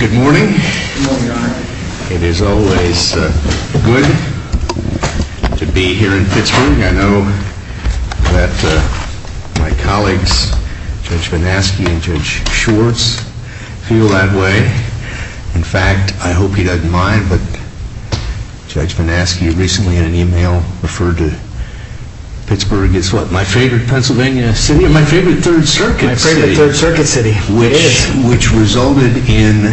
Good morning. It is always good to be here in Pittsburgh. I know that my colleagues, Judge Manaski and Judge Schwartz, feel that way. In fact, I hope he doesn't mind, but Judge Manaski recently in an email referred to Pittsburgh as my favorite Pennsylvania city and my favorite Third Circuit city. Which resulted in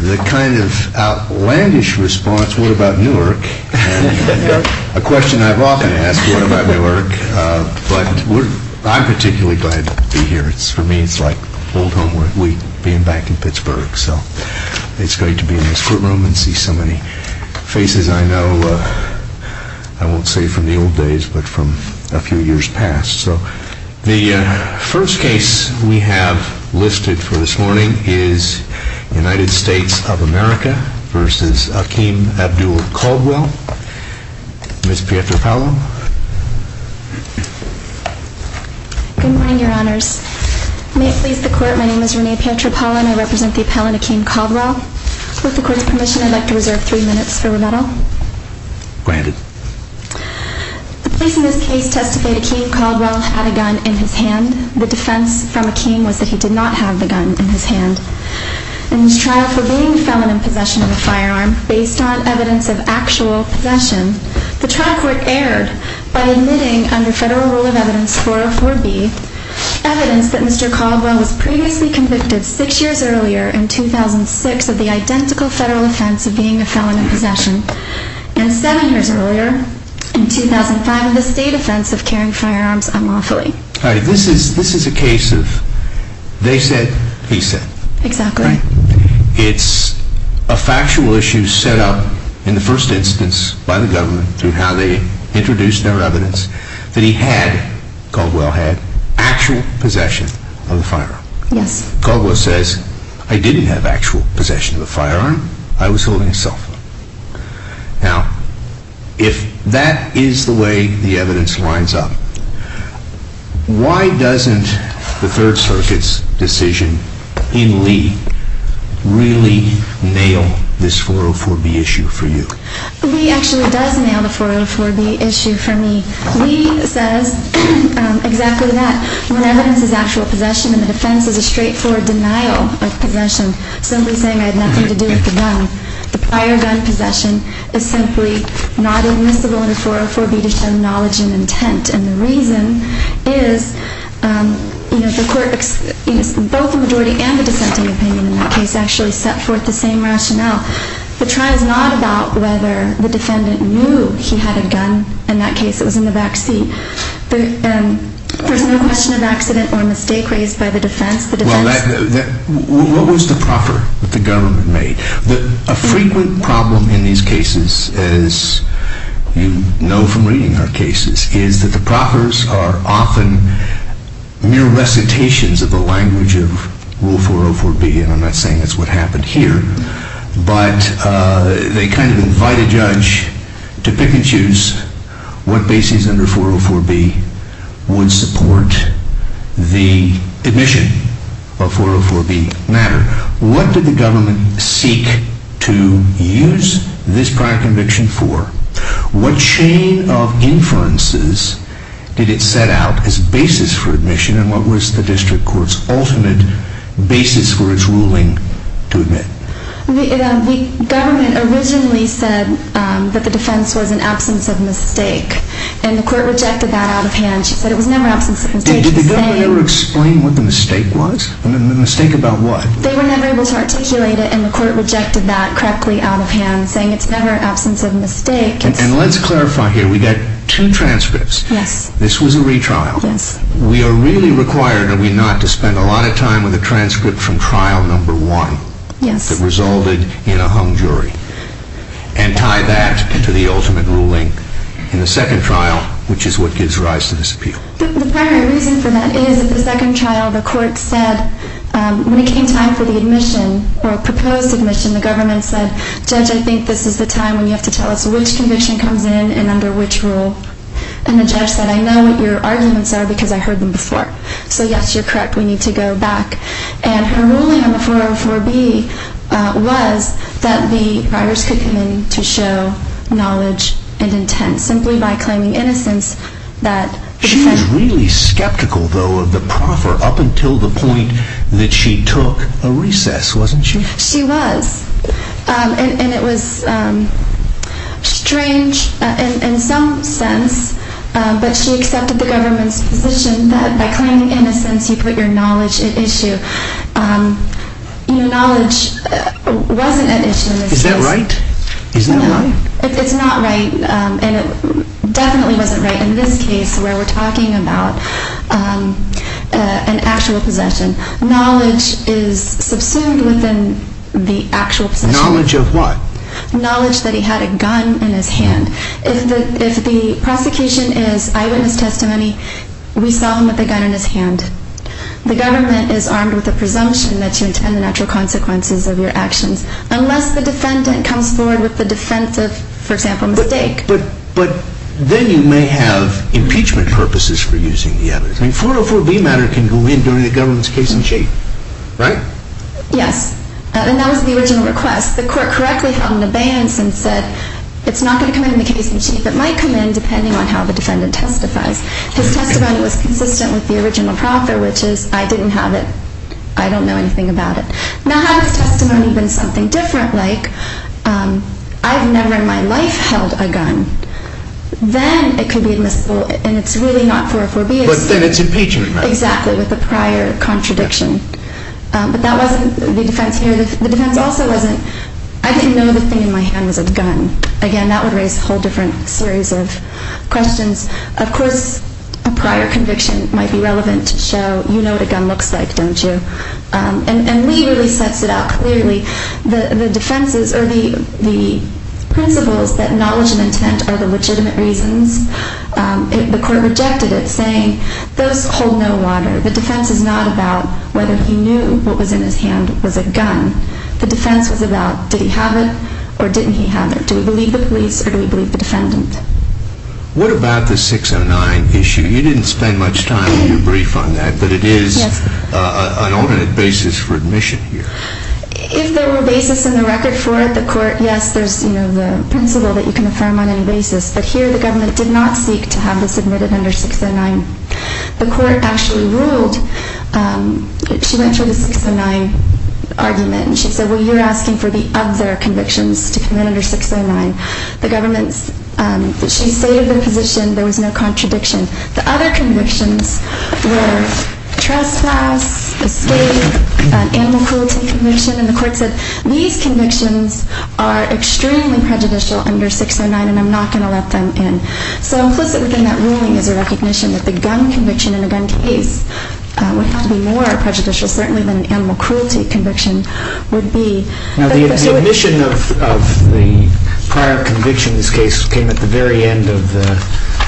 the kind of outlandish response, what about Newark? A question I've often asked, what about Newark? But I'm particularly glad to be here. For me, it's like old homework week being back in Pittsburgh. It's great to be in this courtroom and see so many faces I know, I won't say from the old days, but from a few years past. The first case we have listed for this morning is United States of America v. Akeem Abdul-Caldwell. Ms. Pietropalo? Good morning, Your Honors. May it please the Court, my name is Renee Pietropalo and I represent the appellant Akeem Caldwell. With the Court's permission, I'd like to reserve three minutes for rebuttal. Granted. The police in this case testified that Akeem Caldwell had a gun in his hand. The defense from Akeem was that he did not have the gun in his hand. In his trial for being a felon in possession of a firearm, based on evidence of actual possession, the trial court erred by admitting under Federal Rule of Evidence 404B, evidence that Mr. Caldwell was previously convicted six years earlier in 2006 of the identical federal offense of being a felon in possession, and seven years earlier in 2005 of the state offense of carrying firearms unlawfully. This is a case of they said, he said. Exactly. It's a factual issue set up in the first instance by the government through how they introduced their evidence that he had, Caldwell had, actual possession of a firearm. Yes. Caldwell says, I didn't have actual possession of a firearm, I was holding a cell phone. Now, if that is the way the evidence lines up, why doesn't the Third Circuit's decision in Lee really nail this 404B issue for you? Lee actually does nail the 404B issue for me. Lee says exactly that. When evidence is actual possession and the defense is a straightforward denial of possession, simply saying I had nothing to do with the gun, the prior gun possession is simply not admissible under 404B to show knowledge and intent. And the reason is, you know, the court, both the majority and the dissenting opinion in that case, actually set forth the same rationale. The trial is not about whether the defendant knew he had a gun. In that case, it was in the back seat. There's no question of accident or mistake raised by the defense. What was the proffer that the government made? A frequent problem in these cases, as you know from reading our cases, is that the proffers are often mere recitations of the language of Rule 404B, and I'm not saying that's what happened here, but they kind of invite a judge to pick and choose what basis under 404B would support the admission of 404B matter. What did the government seek to use this prior conviction for? What chain of inferences did it set out as basis for admission, and what was the district court's ultimate basis for its ruling to admit? The government originally said that the defense was an absence of mistake, and the court rejected that out of hand. She said it was never absence of mistake. Did the government ever explain what the mistake was? The mistake about what? They were never able to articulate it, and the court rejected that correctly out of hand, saying it's never absence of mistake. And let's clarify here. We got two transcripts. Yes. This was a retrial. Yes. We are really required, are we not, to spend a lot of time with a transcript from trial number one that resulted in a hung jury, and tie that to the ultimate ruling in the second trial, which is what gives rise to this appeal. The primary reason for that is that the second trial, the court said, when it came time for the admission, or a proposed admission, the government said, Judge, I think this is the time when you have to tell us which conviction comes in and under which rule. And the judge said, I know what your arguments are because I heard them before. So, yes, you're correct. We need to go back. And her ruling on the 404B was that the writers could come in to show knowledge and intent simply by claiming innocence. She was really skeptical, though, of the proffer up until the point that she took a recess, wasn't she? She was. And it was strange in some sense, but she accepted the government's position that by claiming innocence you put your knowledge at issue. You know, knowledge wasn't at issue in this case. Is that right? No. It's not right. And it definitely wasn't right in this case where we're talking about an actual possession. Knowledge is subsumed within the actual possession. Knowledge of what? Knowledge that he had a gun in his hand. If the prosecution is eyewitness testimony, we saw him with a gun in his hand. The government is armed with a presumption that you intend the natural consequences of your actions unless the defendant comes forward with the defense of, for example, mistake. But then you may have impeachment purposes for using the evidence. 404B matter can go in during the government's case-in-chief, right? Yes. And that was the original request. The court correctly held an abeyance and said it's not going to come in the case-in-chief. It might come in depending on how the defendant testifies. His testimony was consistent with the original proffer, which is I didn't have it. I don't know anything about it. Now had his testimony been something different, like I've never in my life held a gun, then it could be admissible and it's really not 404B. But then it's impeachment matter. Exactly, with the prior contradiction. But that wasn't the defense here. The defense also wasn't I didn't know the thing in my hand was a gun. Again, that would raise a whole different series of questions. Of course, a prior conviction might be relevant to show you know what a gun looks like, don't you? And Lee really sets it out clearly. The defenses or the principles that knowledge and intent are the legitimate reasons, the court rejected it saying those hold no water. The defense is not about whether he knew what was in his hand was a gun. The defense was about did he have it or didn't he have it? Do we believe the police or do we believe the defendant? What about the 609 issue? You didn't spend much time when you briefed on that, but it is an alternate basis for admission here. If there were a basis in the record for it, the court, yes, there's the principle that you can affirm on any basis. But here the government did not seek to have this admitted under 609. The court actually ruled she went through the 609 argument. She said, well, you're asking for the other convictions to come in under 609. The government, she saved the position. There was no contradiction. The other convictions were trespass, escape, animal cruelty conviction. And the court said these convictions are extremely prejudicial under 609 and I'm not going to let them in. So implicit within that ruling is a recognition that the gun conviction in a gun case would have to be more prejudicial, certainly than an animal cruelty conviction would be. Now the admission of the prior conviction in this case came at the very end of the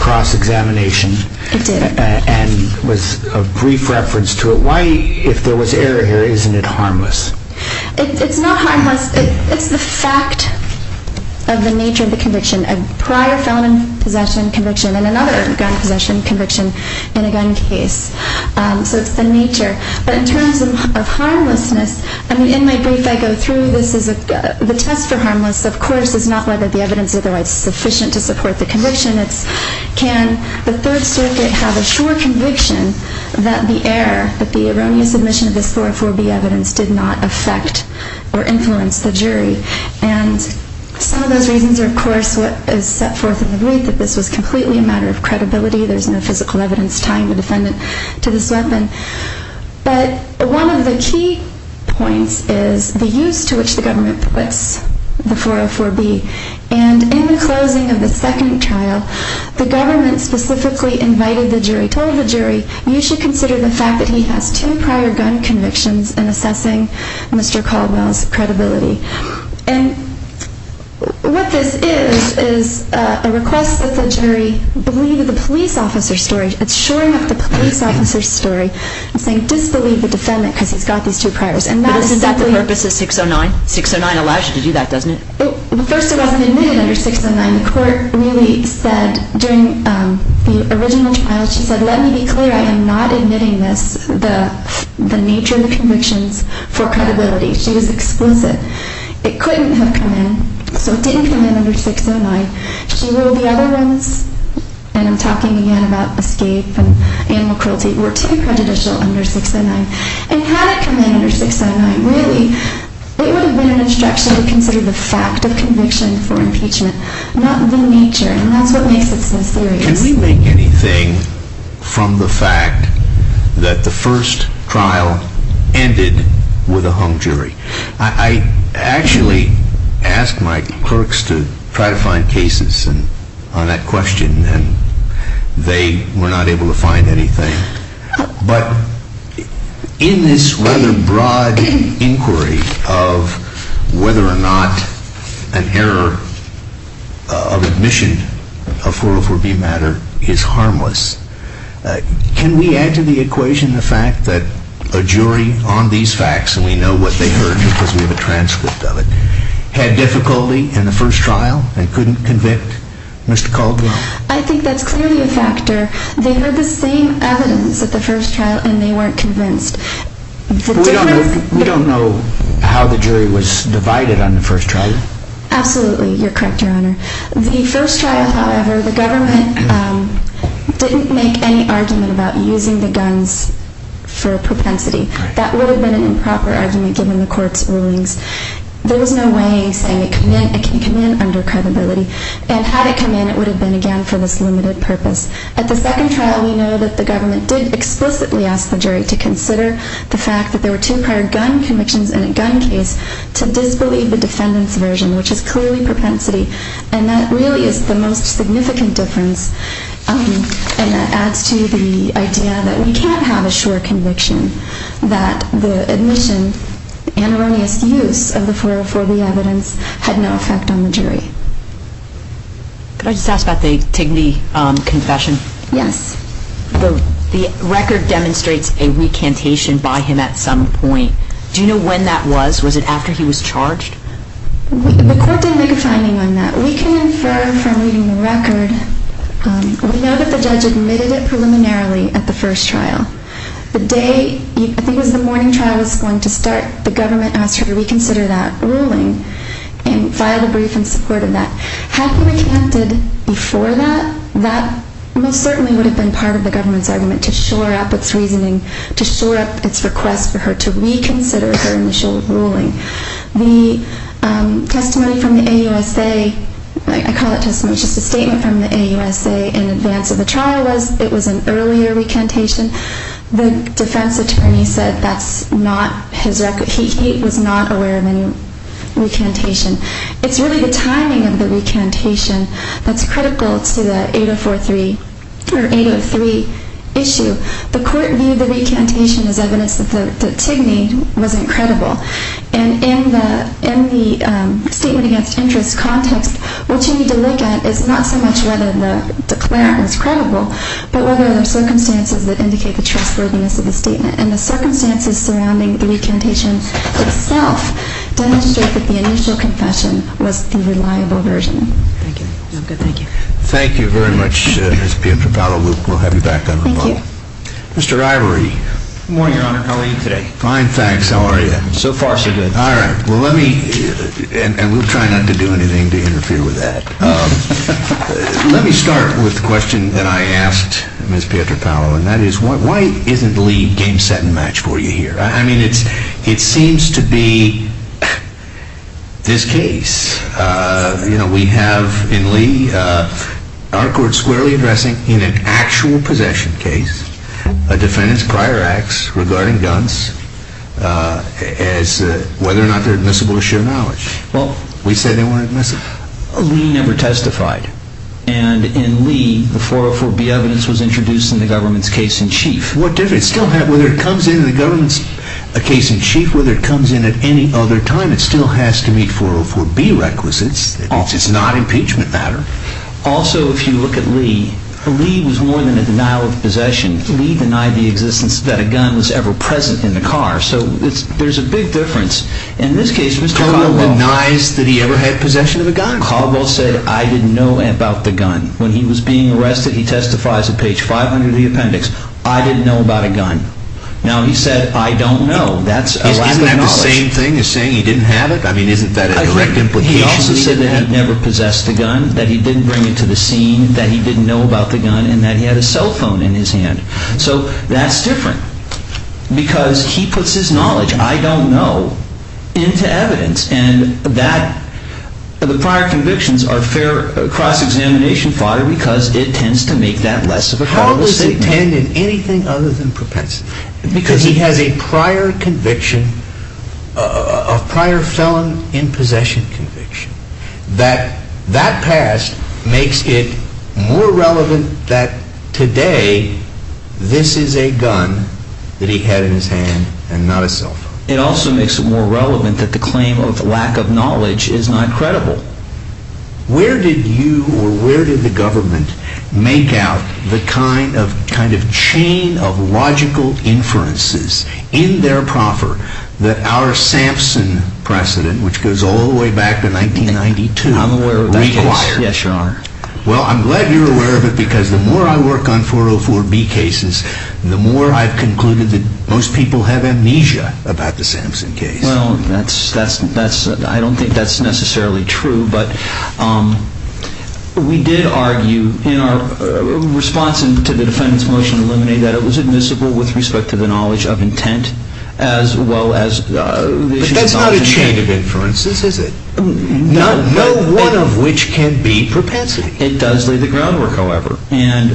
cross-examination. It did. And was a brief reference to it. Why, if there was error here, isn't it harmless? It's not harmless. It's the fact of the nature of the conviction. A prior felon possession conviction and another gun possession conviction in a gun case. So it's the nature. But in terms of harmlessness, I mean, in my brief I go through this as the test for harmless, of course, is not whether the evidence is otherwise sufficient to support the conviction. It's can the Third Circuit have a sure conviction that the error, that the erroneous admission of this 404B evidence did not affect or influence the jury. And some of those reasons are, of course, what is set forth in the brief, that this was completely a matter of credibility. There's no physical evidence tying the defendant to this weapon. But one of the key points is the use to which the government permits the 404B. And in the closing of the second trial, the government specifically invited the jury, told the jury you should consider the fact that he has two prior gun convictions in assessing Mr. Caldwell's credibility. And what this is is a request that the jury believe the police officer's story. It's shoring up the police officer's story and saying disbelieve the defendant because he's got these two priors. But isn't that the purpose of 609? 609 allows you to do that, doesn't it? First, it wasn't admitted under 609. The court really said during the original trial, she said, let me be clear, I am not admitting this, the nature of the convictions, for credibility. She was explicit. It couldn't have come in, so it didn't come in under 609. She ruled the other ones, and I'm talking again about escape and animal cruelty, were too prejudicial under 609. And had it come in under 609, really, it would have been an instruction to consider the fact of conviction for impeachment, not the nature, and that's what makes it so serious. Can we make anything from the fact that the first trial ended with a hung jury? I actually asked my clerks to try to find cases on that question, and they were not able to find anything. But in this rather broad inquiry of whether or not an error of admission of 404B matter is harmless, can we add to the equation the fact that a jury on these facts, and we know what they heard because we have a transcript of it, had difficulty in the first trial and couldn't convict Mr. Calderon? I think that's clearly a factor. They heard the same evidence at the first trial, and they weren't convinced. We don't know how the jury was divided on the first trial. Absolutely, you're correct, Your Honor. The first trial, however, the government didn't make any argument about using the guns for propensity. That would have been an improper argument given the court's rulings. There was no way saying it can come in under credibility, and had it come in, it would have been, again, for this limited purpose. At the second trial, we know that the government did explicitly ask the jury to consider the fact that there were two prior gun convictions in a gun case to disbelieve the defendant's version, which is clearly propensity, and that really is the most significant difference, and that adds to the idea that we can't have a sure conviction that the admission and erroneous use of the 404B evidence had no effect on the jury. Could I just ask about the Tigney confession? Yes. The record demonstrates a recantation by him at some point. Do you know when that was? Was it after he was charged? The court didn't make a finding on that. We can infer from reading the record, we know that the judge admitted it preliminarily at the first trial. The day, I think it was the morning trial was going to start, the government asked her to reconsider that ruling and filed a brief in support of that. Had he recanted before that, that most certainly would have been part of the government's argument to shore up its reasoning, to shore up its request for her to reconsider her initial ruling. The testimony from the AUSA, I call it testimony, it's just a statement from the AUSA in advance of the trial. It was an earlier recantation. The defense attorney said that's not his record. He was not aware of any recantation. It's really the timing of the recantation that's critical to the 803 issue. The court viewed the recantation as evidence that the Tigney wasn't credible. And in the statement against interest context, what you need to look at is not so much whether the declarant was credible, but whether there are circumstances that indicate the trustworthiness of the statement. And the circumstances surrounding the recantation itself demonstrate that the initial confession was the reliable version. Thank you. Thank you very much, Ms. Pietropalo. We'll have you back on the phone. Thank you. Mr. Ivory. Good morning, Your Honor. How are you today? Fine, thanks. How are you? So far, so good. All right. And we'll try not to do anything to interfere with that. Let me start with the question that I asked Ms. Pietropalo, and that is, why isn't Lee game, set, and match for you here? I mean, it seems to be this case. You know, we have in Lee our court squarely addressing in an actual possession case a defendant's prior acts regarding guns as whether or not they're admissible to share knowledge. Well, we said they weren't admissible. Lee never testified. And in Lee, the 404B evidence was introduced in the government's case in chief. What difference? Whether it comes in the government's case in chief, whether it comes in at any other time, it still has to meet 404B requisites. It's not an impeachment matter. Also, if you look at Lee, Lee was more than a denial of possession. Lee denied the existence that a gun was ever present in the car. So there's a big difference. In this case, Mr. Caldwell denies that he ever had possession of a gun. Caldwell said, I didn't know about the gun. When he was being arrested, he testifies at page 500 of the appendix. I didn't know about a gun. Now, he said, I don't know. That's a lack of knowledge. Isn't that the same thing as saying he didn't have it? I mean, isn't that a direct implication? He also said that he never possessed a gun, that he didn't bring it to the scene, that he didn't know about the gun, and that he had a cell phone in his hand. So that's different. Because he puts his knowledge, I don't know, into evidence. And the prior convictions are cross-examination fire because it tends to make that less of a problem. How does it tend in anything other than propensity? Because he has a prior conviction, a prior felon in possession conviction, that that past makes it more relevant that today this is a gun that he had in his hand and not a cell phone. It also makes it more relevant that the claim of lack of knowledge is not credible. Where did you or where did the government make out the kind of chain of logical inferences in their proffer that our Sampson precedent, which goes all the way back to 1992, required? I'm aware of that case. Yes, Your Honor. Well, I'm glad you're aware of it because the more I work on 404B cases, the more I've concluded that most people have amnesia about the Sampson case. Well, I don't think that's necessarily true. But we did argue in our response to the defendant's motion to eliminate that it was admissible with respect to the knowledge of intent as well as... But that's not a chain of inferences, is it? No. No one of which can be propensity. It does lay the groundwork, however. And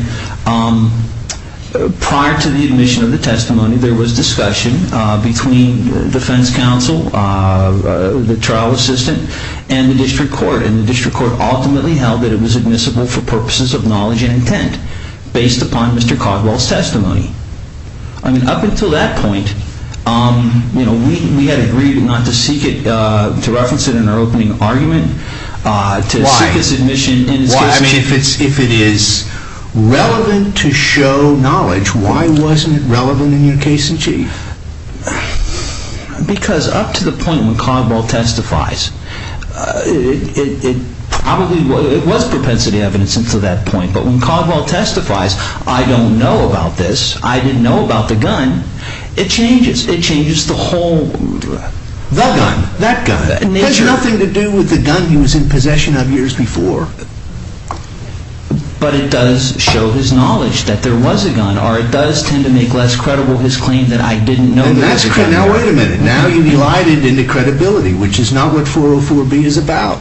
prior to the admission of the testimony, there was discussion between defense counsel, the trial assistant, and the district court. And the district court ultimately held that it was admissible for purposes of knowledge and intent based upon Mr. Coswell's testimony. I mean, up until that point, you know, we had agreed not to seek it, to reference it in our opening argument. Why? I mean, if it is relevant to show knowledge, why wasn't it relevant in your case in chief? Because up to the point when Coswell testifies, it was propensity evidence until that point. But when Coswell testifies, I don't know about this. I didn't know about the gun. It changes. It changes the whole... The gun. That gun. It has nothing to do with the gun he was in possession of years before. But it does show his knowledge that there was a gun, or it does tend to make less credible his claim that I didn't know there was a gun. Now wait a minute. Now you've elided into credibility, which is not what 404B is about.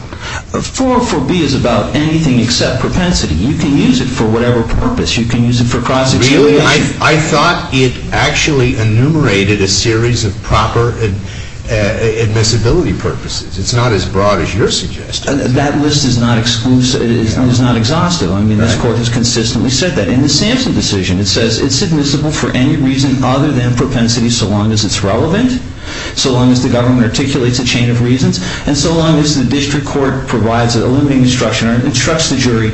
404B is about anything except propensity. You can use it for whatever purpose. You can use it for prostitution. I thought it actually enumerated a series of proper admissibility purposes. It's not as broad as you're suggesting. That list is not exhaustive. I mean, this Court has consistently said that. In the Sampson decision, it says it's admissible for any reason other than propensity so long as it's relevant, so long as the government articulates a chain of reasons, and so long as the district court provides a limiting instruction or instructs the jury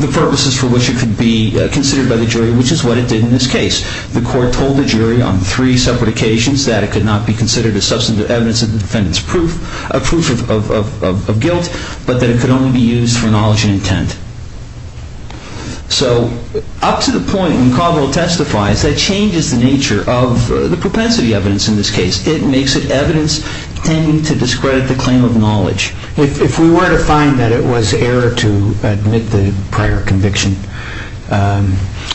the purposes for which it could be considered by the jury, which is what it did in this case. The court told the jury on three separate occasions that it could not be considered as substantive evidence of the defendant's proof of guilt, but that it could only be used for knowledge and intent. So up to the point when Caldwell testifies, that changes the nature of the propensity evidence in this case. It makes it evidence tending to discredit the claim of knowledge. If we were to find that it was error to admit the prior conviction,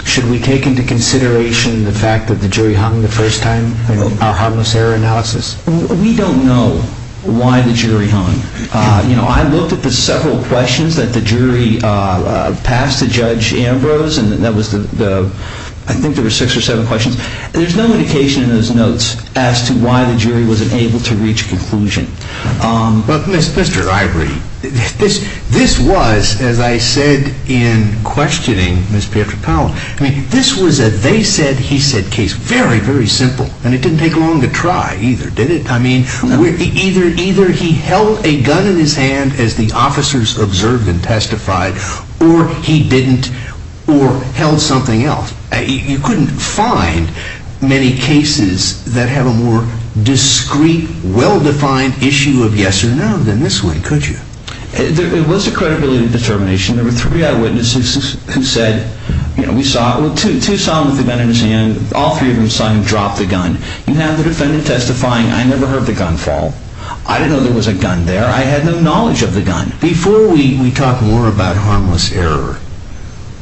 should we take into consideration the fact that the jury hung the first time in our harmless error analysis? We don't know why the jury hung. You know, I looked at the several questions that the jury passed to Judge Ambrose, and that was the, I think there were six or seven questions. There's no indication in those notes as to why the jury wasn't able to reach a conclusion. But, Mr. Ivory, this was, as I said in questioning Ms. Patrick-Powell, I mean, this was a they-said-he-said case. Very, very simple, and it didn't take long to try either, did it? I mean, either he held a gun in his hand as the officers observed and testified, or he didn't, or held something else. You couldn't find many cases that have a more discreet, well-defined issue of yes or no than this one, could you? It was a credibility determination. There were three eyewitnesses who said, you know, we saw, well, two saw him with a gun in his hand. All three of them saw him drop the gun. You have the defendant testifying, I never heard the gun fall. I didn't know there was a gun there. I had no knowledge of the gun. Before we talk more about harmless error,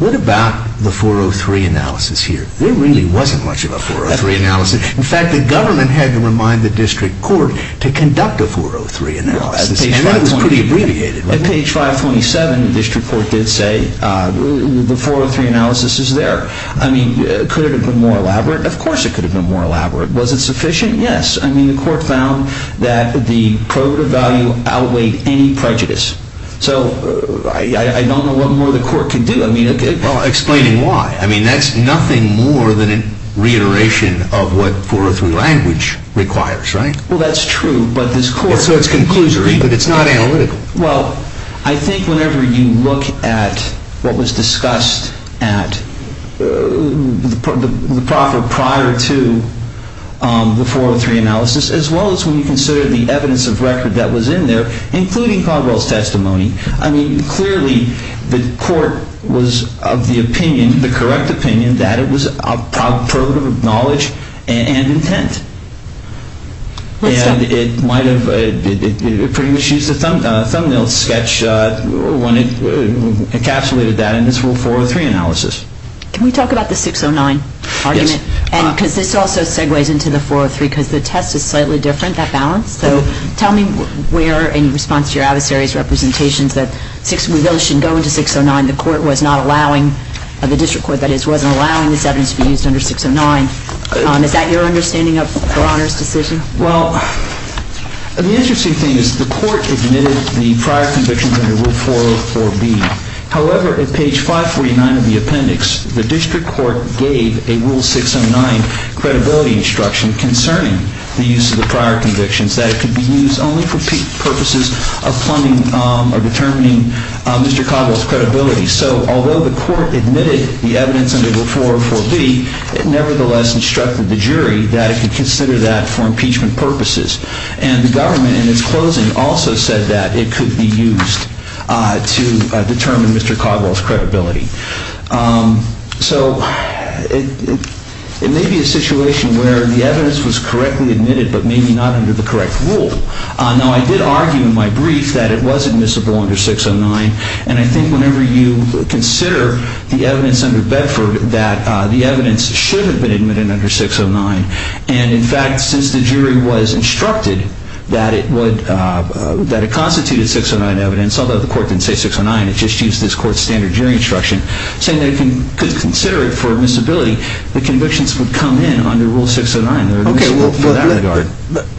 what about the 403 analysis here? There really wasn't much of a 403 analysis. In fact, the government had to remind the district court to conduct a 403 analysis, and that was pretty abbreviated. At page 527, the district court did say the 403 analysis is there. I mean, could it have been more elaborate? Of course it could have been more elaborate. Was it sufficient? Yes. I mean, the court found that the prerogative value outweighed any prejudice. So I don't know what more the court could do. Well, explain why. I mean, that's nothing more than a reiteration of what 403 language requires, right? Well, that's true, but this court— So it's conclusory, but it's not analytical. Well, I think whenever you look at what was discussed at the proper prior to the 403 analysis, as well as when you consider the evidence of record that was in there, including Caldwell's testimony, I mean, clearly the court was of the opinion, the correct opinion, that it was a prerogative of knowledge and intent. And it might have pretty much used a thumbnail sketch when it encapsulated that in its rule 403 analysis. Can we talk about the 609 argument? Yes. Because this also segues into the 403, because the test is slightly different, that balance. So tell me where, in response to your adversary's representations, that we really shouldn't go into 609. The court was not allowing—the district court, that is—wasn't allowing this evidence to be used under 609. Is that your understanding of O'Connor's decision? Well, the interesting thing is the court admitted the prior convictions under Rule 404B. However, at page 549 of the appendix, the district court gave a Rule 609 credibility instruction concerning the use of the prior convictions, that it could be used only for purposes of determining Mr. Caldwell's credibility. So although the court admitted the evidence under Rule 404B, it nevertheless instructed the jury that it could consider that for impeachment purposes. And the government, in its closing, also said that it could be used to determine Mr. Caldwell's credibility. So it may be a situation where the evidence was correctly admitted, but maybe not under the correct rule. Now, I did argue in my brief that it was admissible under 609. And I think whenever you consider the evidence under Bedford, that the evidence should have been admitted under 609. And, in fact, since the jury was instructed that it constituted 609 evidence—although the court didn't say 609, it just used this court's standard jury instruction—saying that it could consider it for admissibility, the convictions would come in under Rule 609.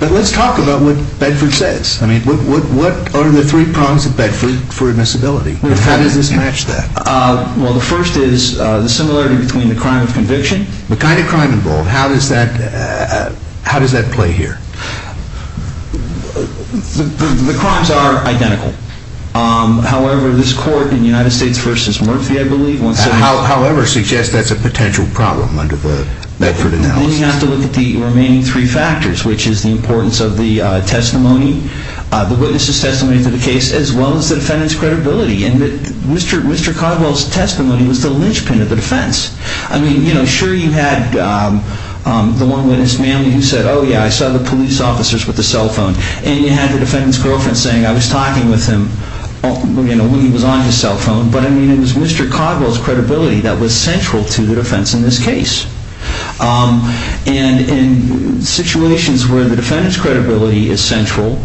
But let's talk about what Bedford says. I mean, what are the three prongs of Bedford for admissibility? How does this match that? Well, the first is the similarity between the crime of conviction— The kind of crime involved. How does that play here? The crimes are identical. However, this court in United States v. Murphy, I believe, once said— However suggests that's a potential problem under the Bedford analysis. And then you have to look at the remaining three factors, which is the importance of the testimony, the witness's testimony to the case, as well as the defendant's credibility. And Mr. Codwell's testimony was the linchpin of the defense. I mean, sure, you had the one witness, Manley, who said, oh, yeah, I saw the police officers with the cell phone. And you had the defendant's girlfriend saying, I was talking with him when he was on his cell phone. But, I mean, it was Mr. Codwell's credibility that was central to the defense in this case. And in situations where the defendant's credibility is central,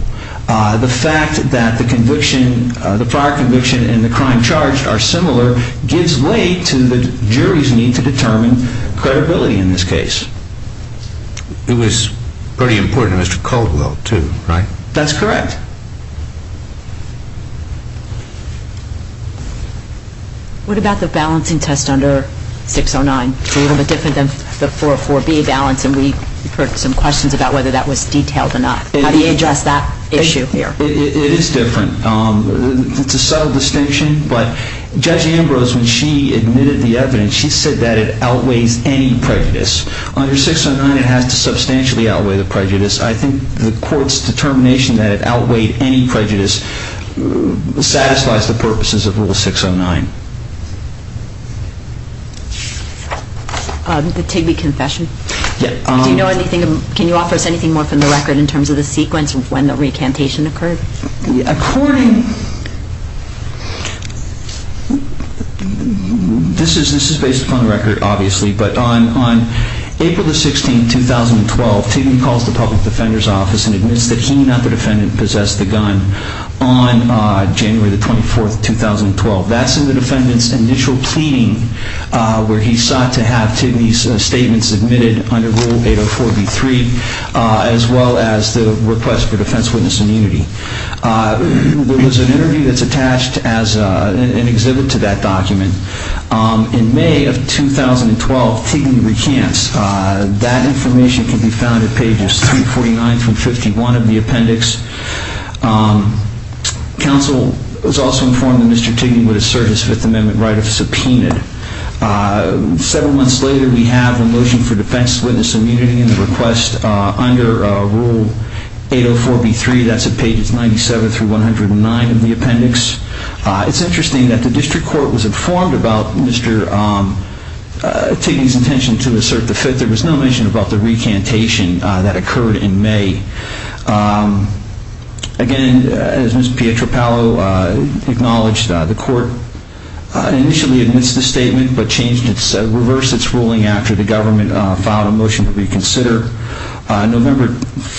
the fact that the conviction, the prior conviction and the crime charged are similar gives way to the jury's need to determine credibility in this case. It was pretty important to Mr. Codwell, too, right? That's correct. What about the balancing test under 609? It's a little bit different than the 404B balance, and we heard some questions about whether that was detailed enough. How do you address that issue here? It is different. It's a subtle distinction, but Judge Ambrose, when she admitted the evidence, she said that it outweighs any prejudice. I think the court's determination that it outweighed any prejudice satisfies the purposes of Rule 609. The Tigbee confession. Do you know anything, can you offer us anything more from the record in terms of the sequence of when the recantation occurred? According, this is based upon the record, obviously, but on April 16, 2012, Tigbee calls the public defender's office and admits that he, not the defendant, possessed the gun on January 24, 2012. That's in the defendant's initial pleading, where he sought to have Tigbee's statement submitted under Rule 804B3, as well as the request for defense witness immunity. There was an interview that's attached as an exhibit to that document. In May of 2012, Tigbee recants. That information can be found at pages 349 through 51 of the appendix. Counsel was also informed that Mr. Tigbee would assert his Fifth Amendment right of subpoena. Seven months later, we have a motion for defense witness immunity in the request under Rule 804B3. That's at pages 97 through 109 of the appendix. It's interesting that the district court was informed about Mr. Tigbee's intention to assert the Fifth. There was no mention about the recantation that occurred in May. Again, as Ms. Pietropalo acknowledged, the court initially admits the statement, but reversed its ruling after the government filed a motion to reconsider. November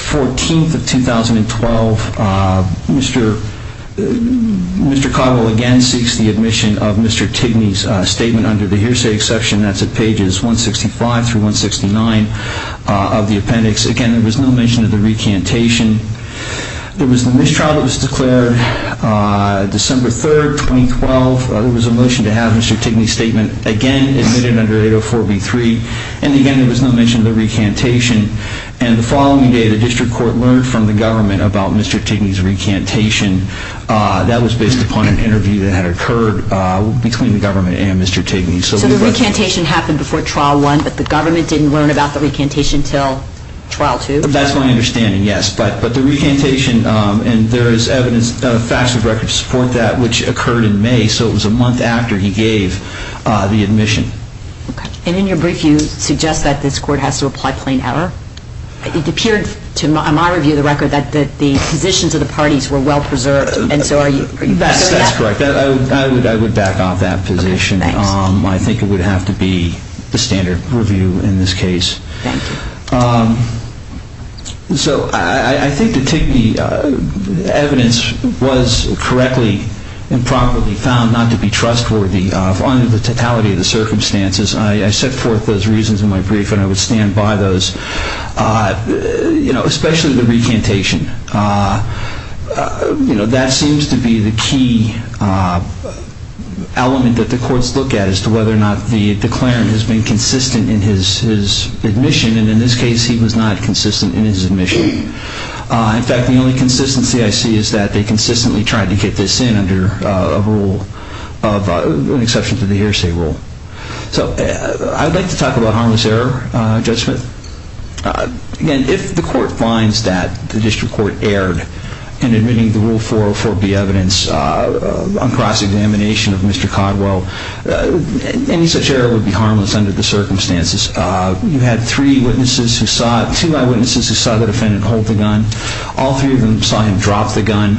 14th of 2012, Mr. Cottle again seeks the admission of Mr. Tigbee's statement under the hearsay exception. That's at pages 165 through 169 of the appendix. Again, there was no mention of the recantation. There was a mistrial that was declared December 3rd, 2012. There was a motion to have Mr. Tigbee's statement again admitted under 804B3. And again, there was no mention of the recantation. And the following day, the district court learned from the government about Mr. Tigbee's recantation. That was based upon an interview that had occurred between the government and Mr. Tigbee. So the recantation happened before Trial 1, but the government didn't learn about the recantation until Trial 2? That's my understanding, yes. But the recantation, and there is evidence, facts of record to support that, which occurred in May. So it was a month after he gave the admission. Okay. And in your brief, you suggest that this court has to apply plain error? It appeared to my review of the record that the positions of the parties were well preserved. And so are you back on that? That's correct. I would back off that position. I think it would have to be the standard review in this case. Thank you. So I think the Tigbee evidence was correctly and properly found not to be trustworthy, following the totality of the circumstances. I set forth those reasons in my brief, and I would stand by those, you know, especially the recantation. You know, that seems to be the key element that the courts look at, as to whether or not the declarant has been consistent in his admission. And in this case, he was not consistent in his admission. In fact, the only consistency I see is that they consistently tried to get this in under an exception to the hearsay rule. So I would like to talk about harmless error, Judge Smith. Again, if the court finds that the district court erred in admitting the Rule 404B evidence on cross-examination of Mr. Codwell, any such error would be harmless under the circumstances. You had two eyewitnesses who saw the defendant hold the gun. All three of them saw him drop the gun.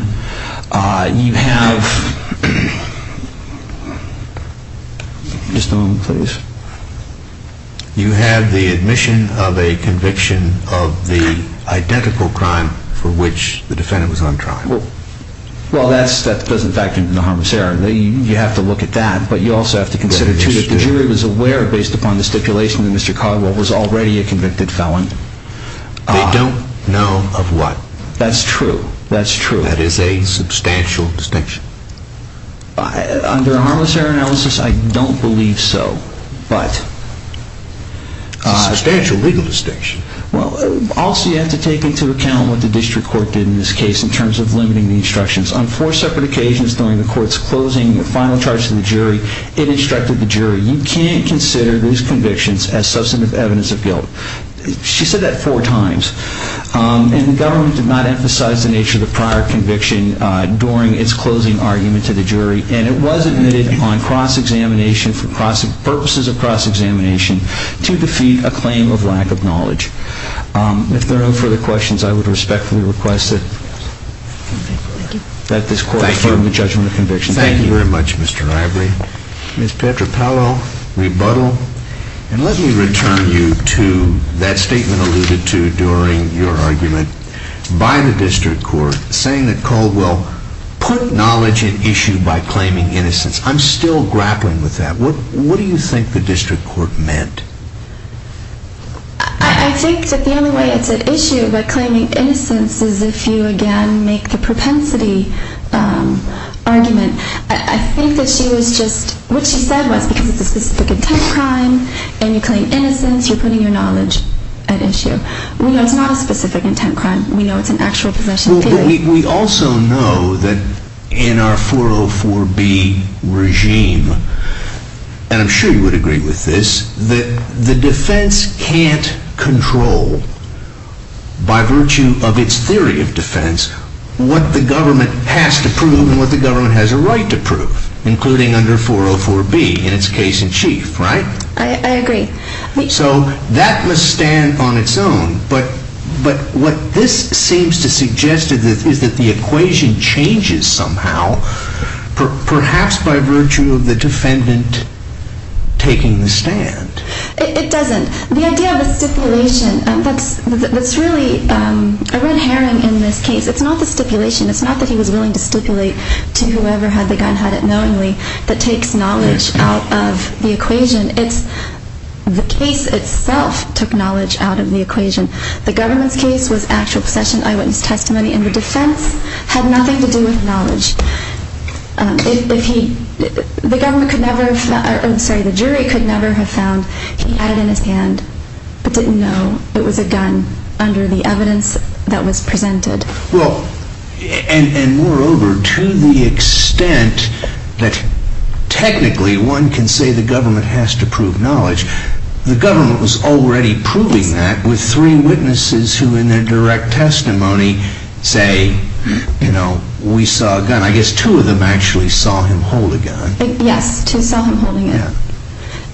You have the admission of a conviction of the identical crime for which the defendant was on trial. Well, that doesn't factor into the harmless error. You have to look at that, but you also have to consider, too, that the jury was aware, based upon the stipulation, that Mr. Codwell was already a convicted felon. They don't know of what? That's true. That's true. That is a substantial distinction. Under a harmless error analysis, I don't believe so, but... It's a substantial legal distinction. Well, also you have to take into account what the district court did in this case, in terms of limiting the instructions. On four separate occasions during the court's closing final charge to the jury, it instructed the jury, you can't consider these convictions as substantive evidence of guilt. She said that four times. And the government did not emphasize the nature of the prior conviction during its closing argument to the jury, and it was admitted on cross-examination for purposes of cross-examination to defeat a claim of lack of knowledge. If there are no further questions, I would respectfully request that this court affirm the judgment of conviction. Thank you very much, Mr. Ivory. Ms. Petropalo, rebuttal. And let me return you to that statement alluded to during your argument by the district court, saying that Codwell put knowledge at issue by claiming innocence. I'm still grappling with that. What do you think the district court meant? I think that the only way it's at issue by claiming innocence is if you, again, make the propensity argument. I think that she was just, what she said was, because it's a specific intent crime and you claim innocence, you're putting your knowledge at issue. We know it's not a specific intent crime. We know it's an actual possession. We also know that in our 404B regime, and I'm sure you would agree with this, that the defense can't control, by virtue of its theory of defense, what the government has to prove and what the government has a right to prove, including under 404B in its case in chief, right? I agree. So that must stand on its own. But what this seems to suggest is that the equation changes somehow, perhaps by virtue of the defendant taking the stand. It doesn't. The idea of the stipulation, that's really a red herring in this case. It's not the stipulation. It's not that he was willing to stipulate to whoever had the gun, had it knowingly. That takes knowledge out of the equation. The case itself took knowledge out of the equation. The government's case was actual possession, eyewitness testimony, and the defense had nothing to do with knowledge. The jury could never have found he had it in his hand, but didn't know it was a gun under the evidence that was presented. And moreover, to the extent that technically one can say the government has to prove knowledge, the government was already proving that with three witnesses who in their direct testimony say, you know, we saw a gun. I guess two of them actually saw him hold a gun. Yes, two saw him holding it.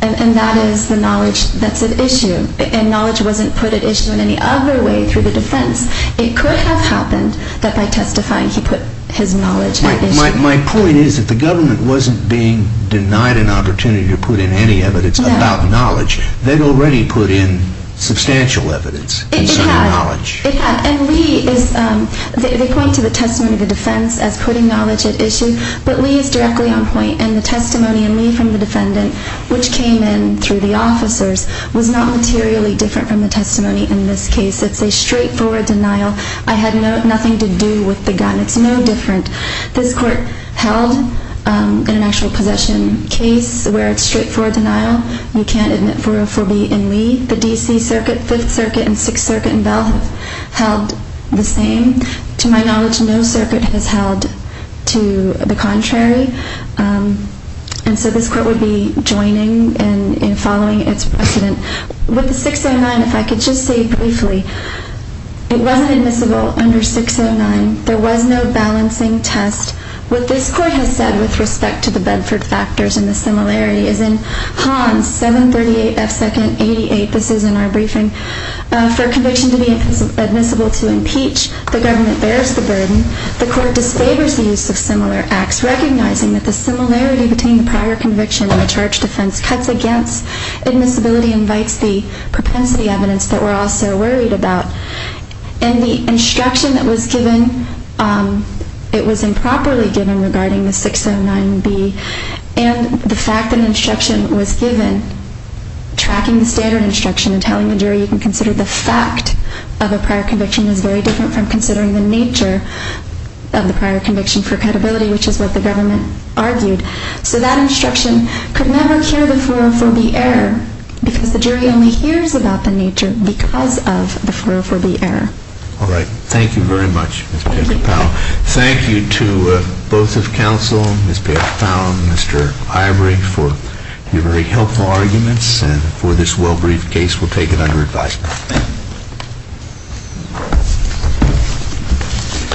And that is the knowledge that's at issue. And knowledge wasn't put at issue in any other way through the defense. It could have happened that by testifying he put his knowledge at issue. My point is that the government wasn't being denied an opportunity to put in any evidence about knowledge. They'd already put in substantial evidence. It had. And they point to the testimony of the defense as putting knowledge at issue, but Lee is directly on point, and the testimony in Lee from the defendant, which came in through the officers, was not materially different from the testimony in this case. It's a straightforward denial. I had nothing to do with the gun. It's no different. This court held in an actual possession case where it's straightforward denial. You can't admit 404B in Lee. The D.C. Circuit, Fifth Circuit, and Sixth Circuit in Bell have held the same. To my knowledge, no circuit has held to the contrary. And so this court would be joining and following its precedent. With the 609, if I could just say briefly, it wasn't admissible under 609. There was no balancing test. What this court has said with respect to the Bedford factors and the similarity is in Hans 738F2nd88. This is in our briefing. For a conviction to be admissible to impeach, the government bears the burden. The court disfavors the use of similar acts, recognizing that the similarity between the prior conviction and the charge defense cuts against admissibility and invites the propensity evidence that we're all so worried about. And the instruction that was given, it was improperly given regarding the 609B. And the fact that instruction was given, tracking the standard instruction and telling the jury you can consider the fact of a prior conviction is very different from considering the nature of the prior conviction for credibility, which is what the government argued. So that instruction could never cure the 404B error because the jury only hears about the nature because of the 404B error. All right. Thank you very much, Ms. Payette-Powell. Thank you to both of counsel, Ms. Payette-Powell and Mr. Ivery, for your very helpful arguments and for this well-briefed case. We'll take it under advisement.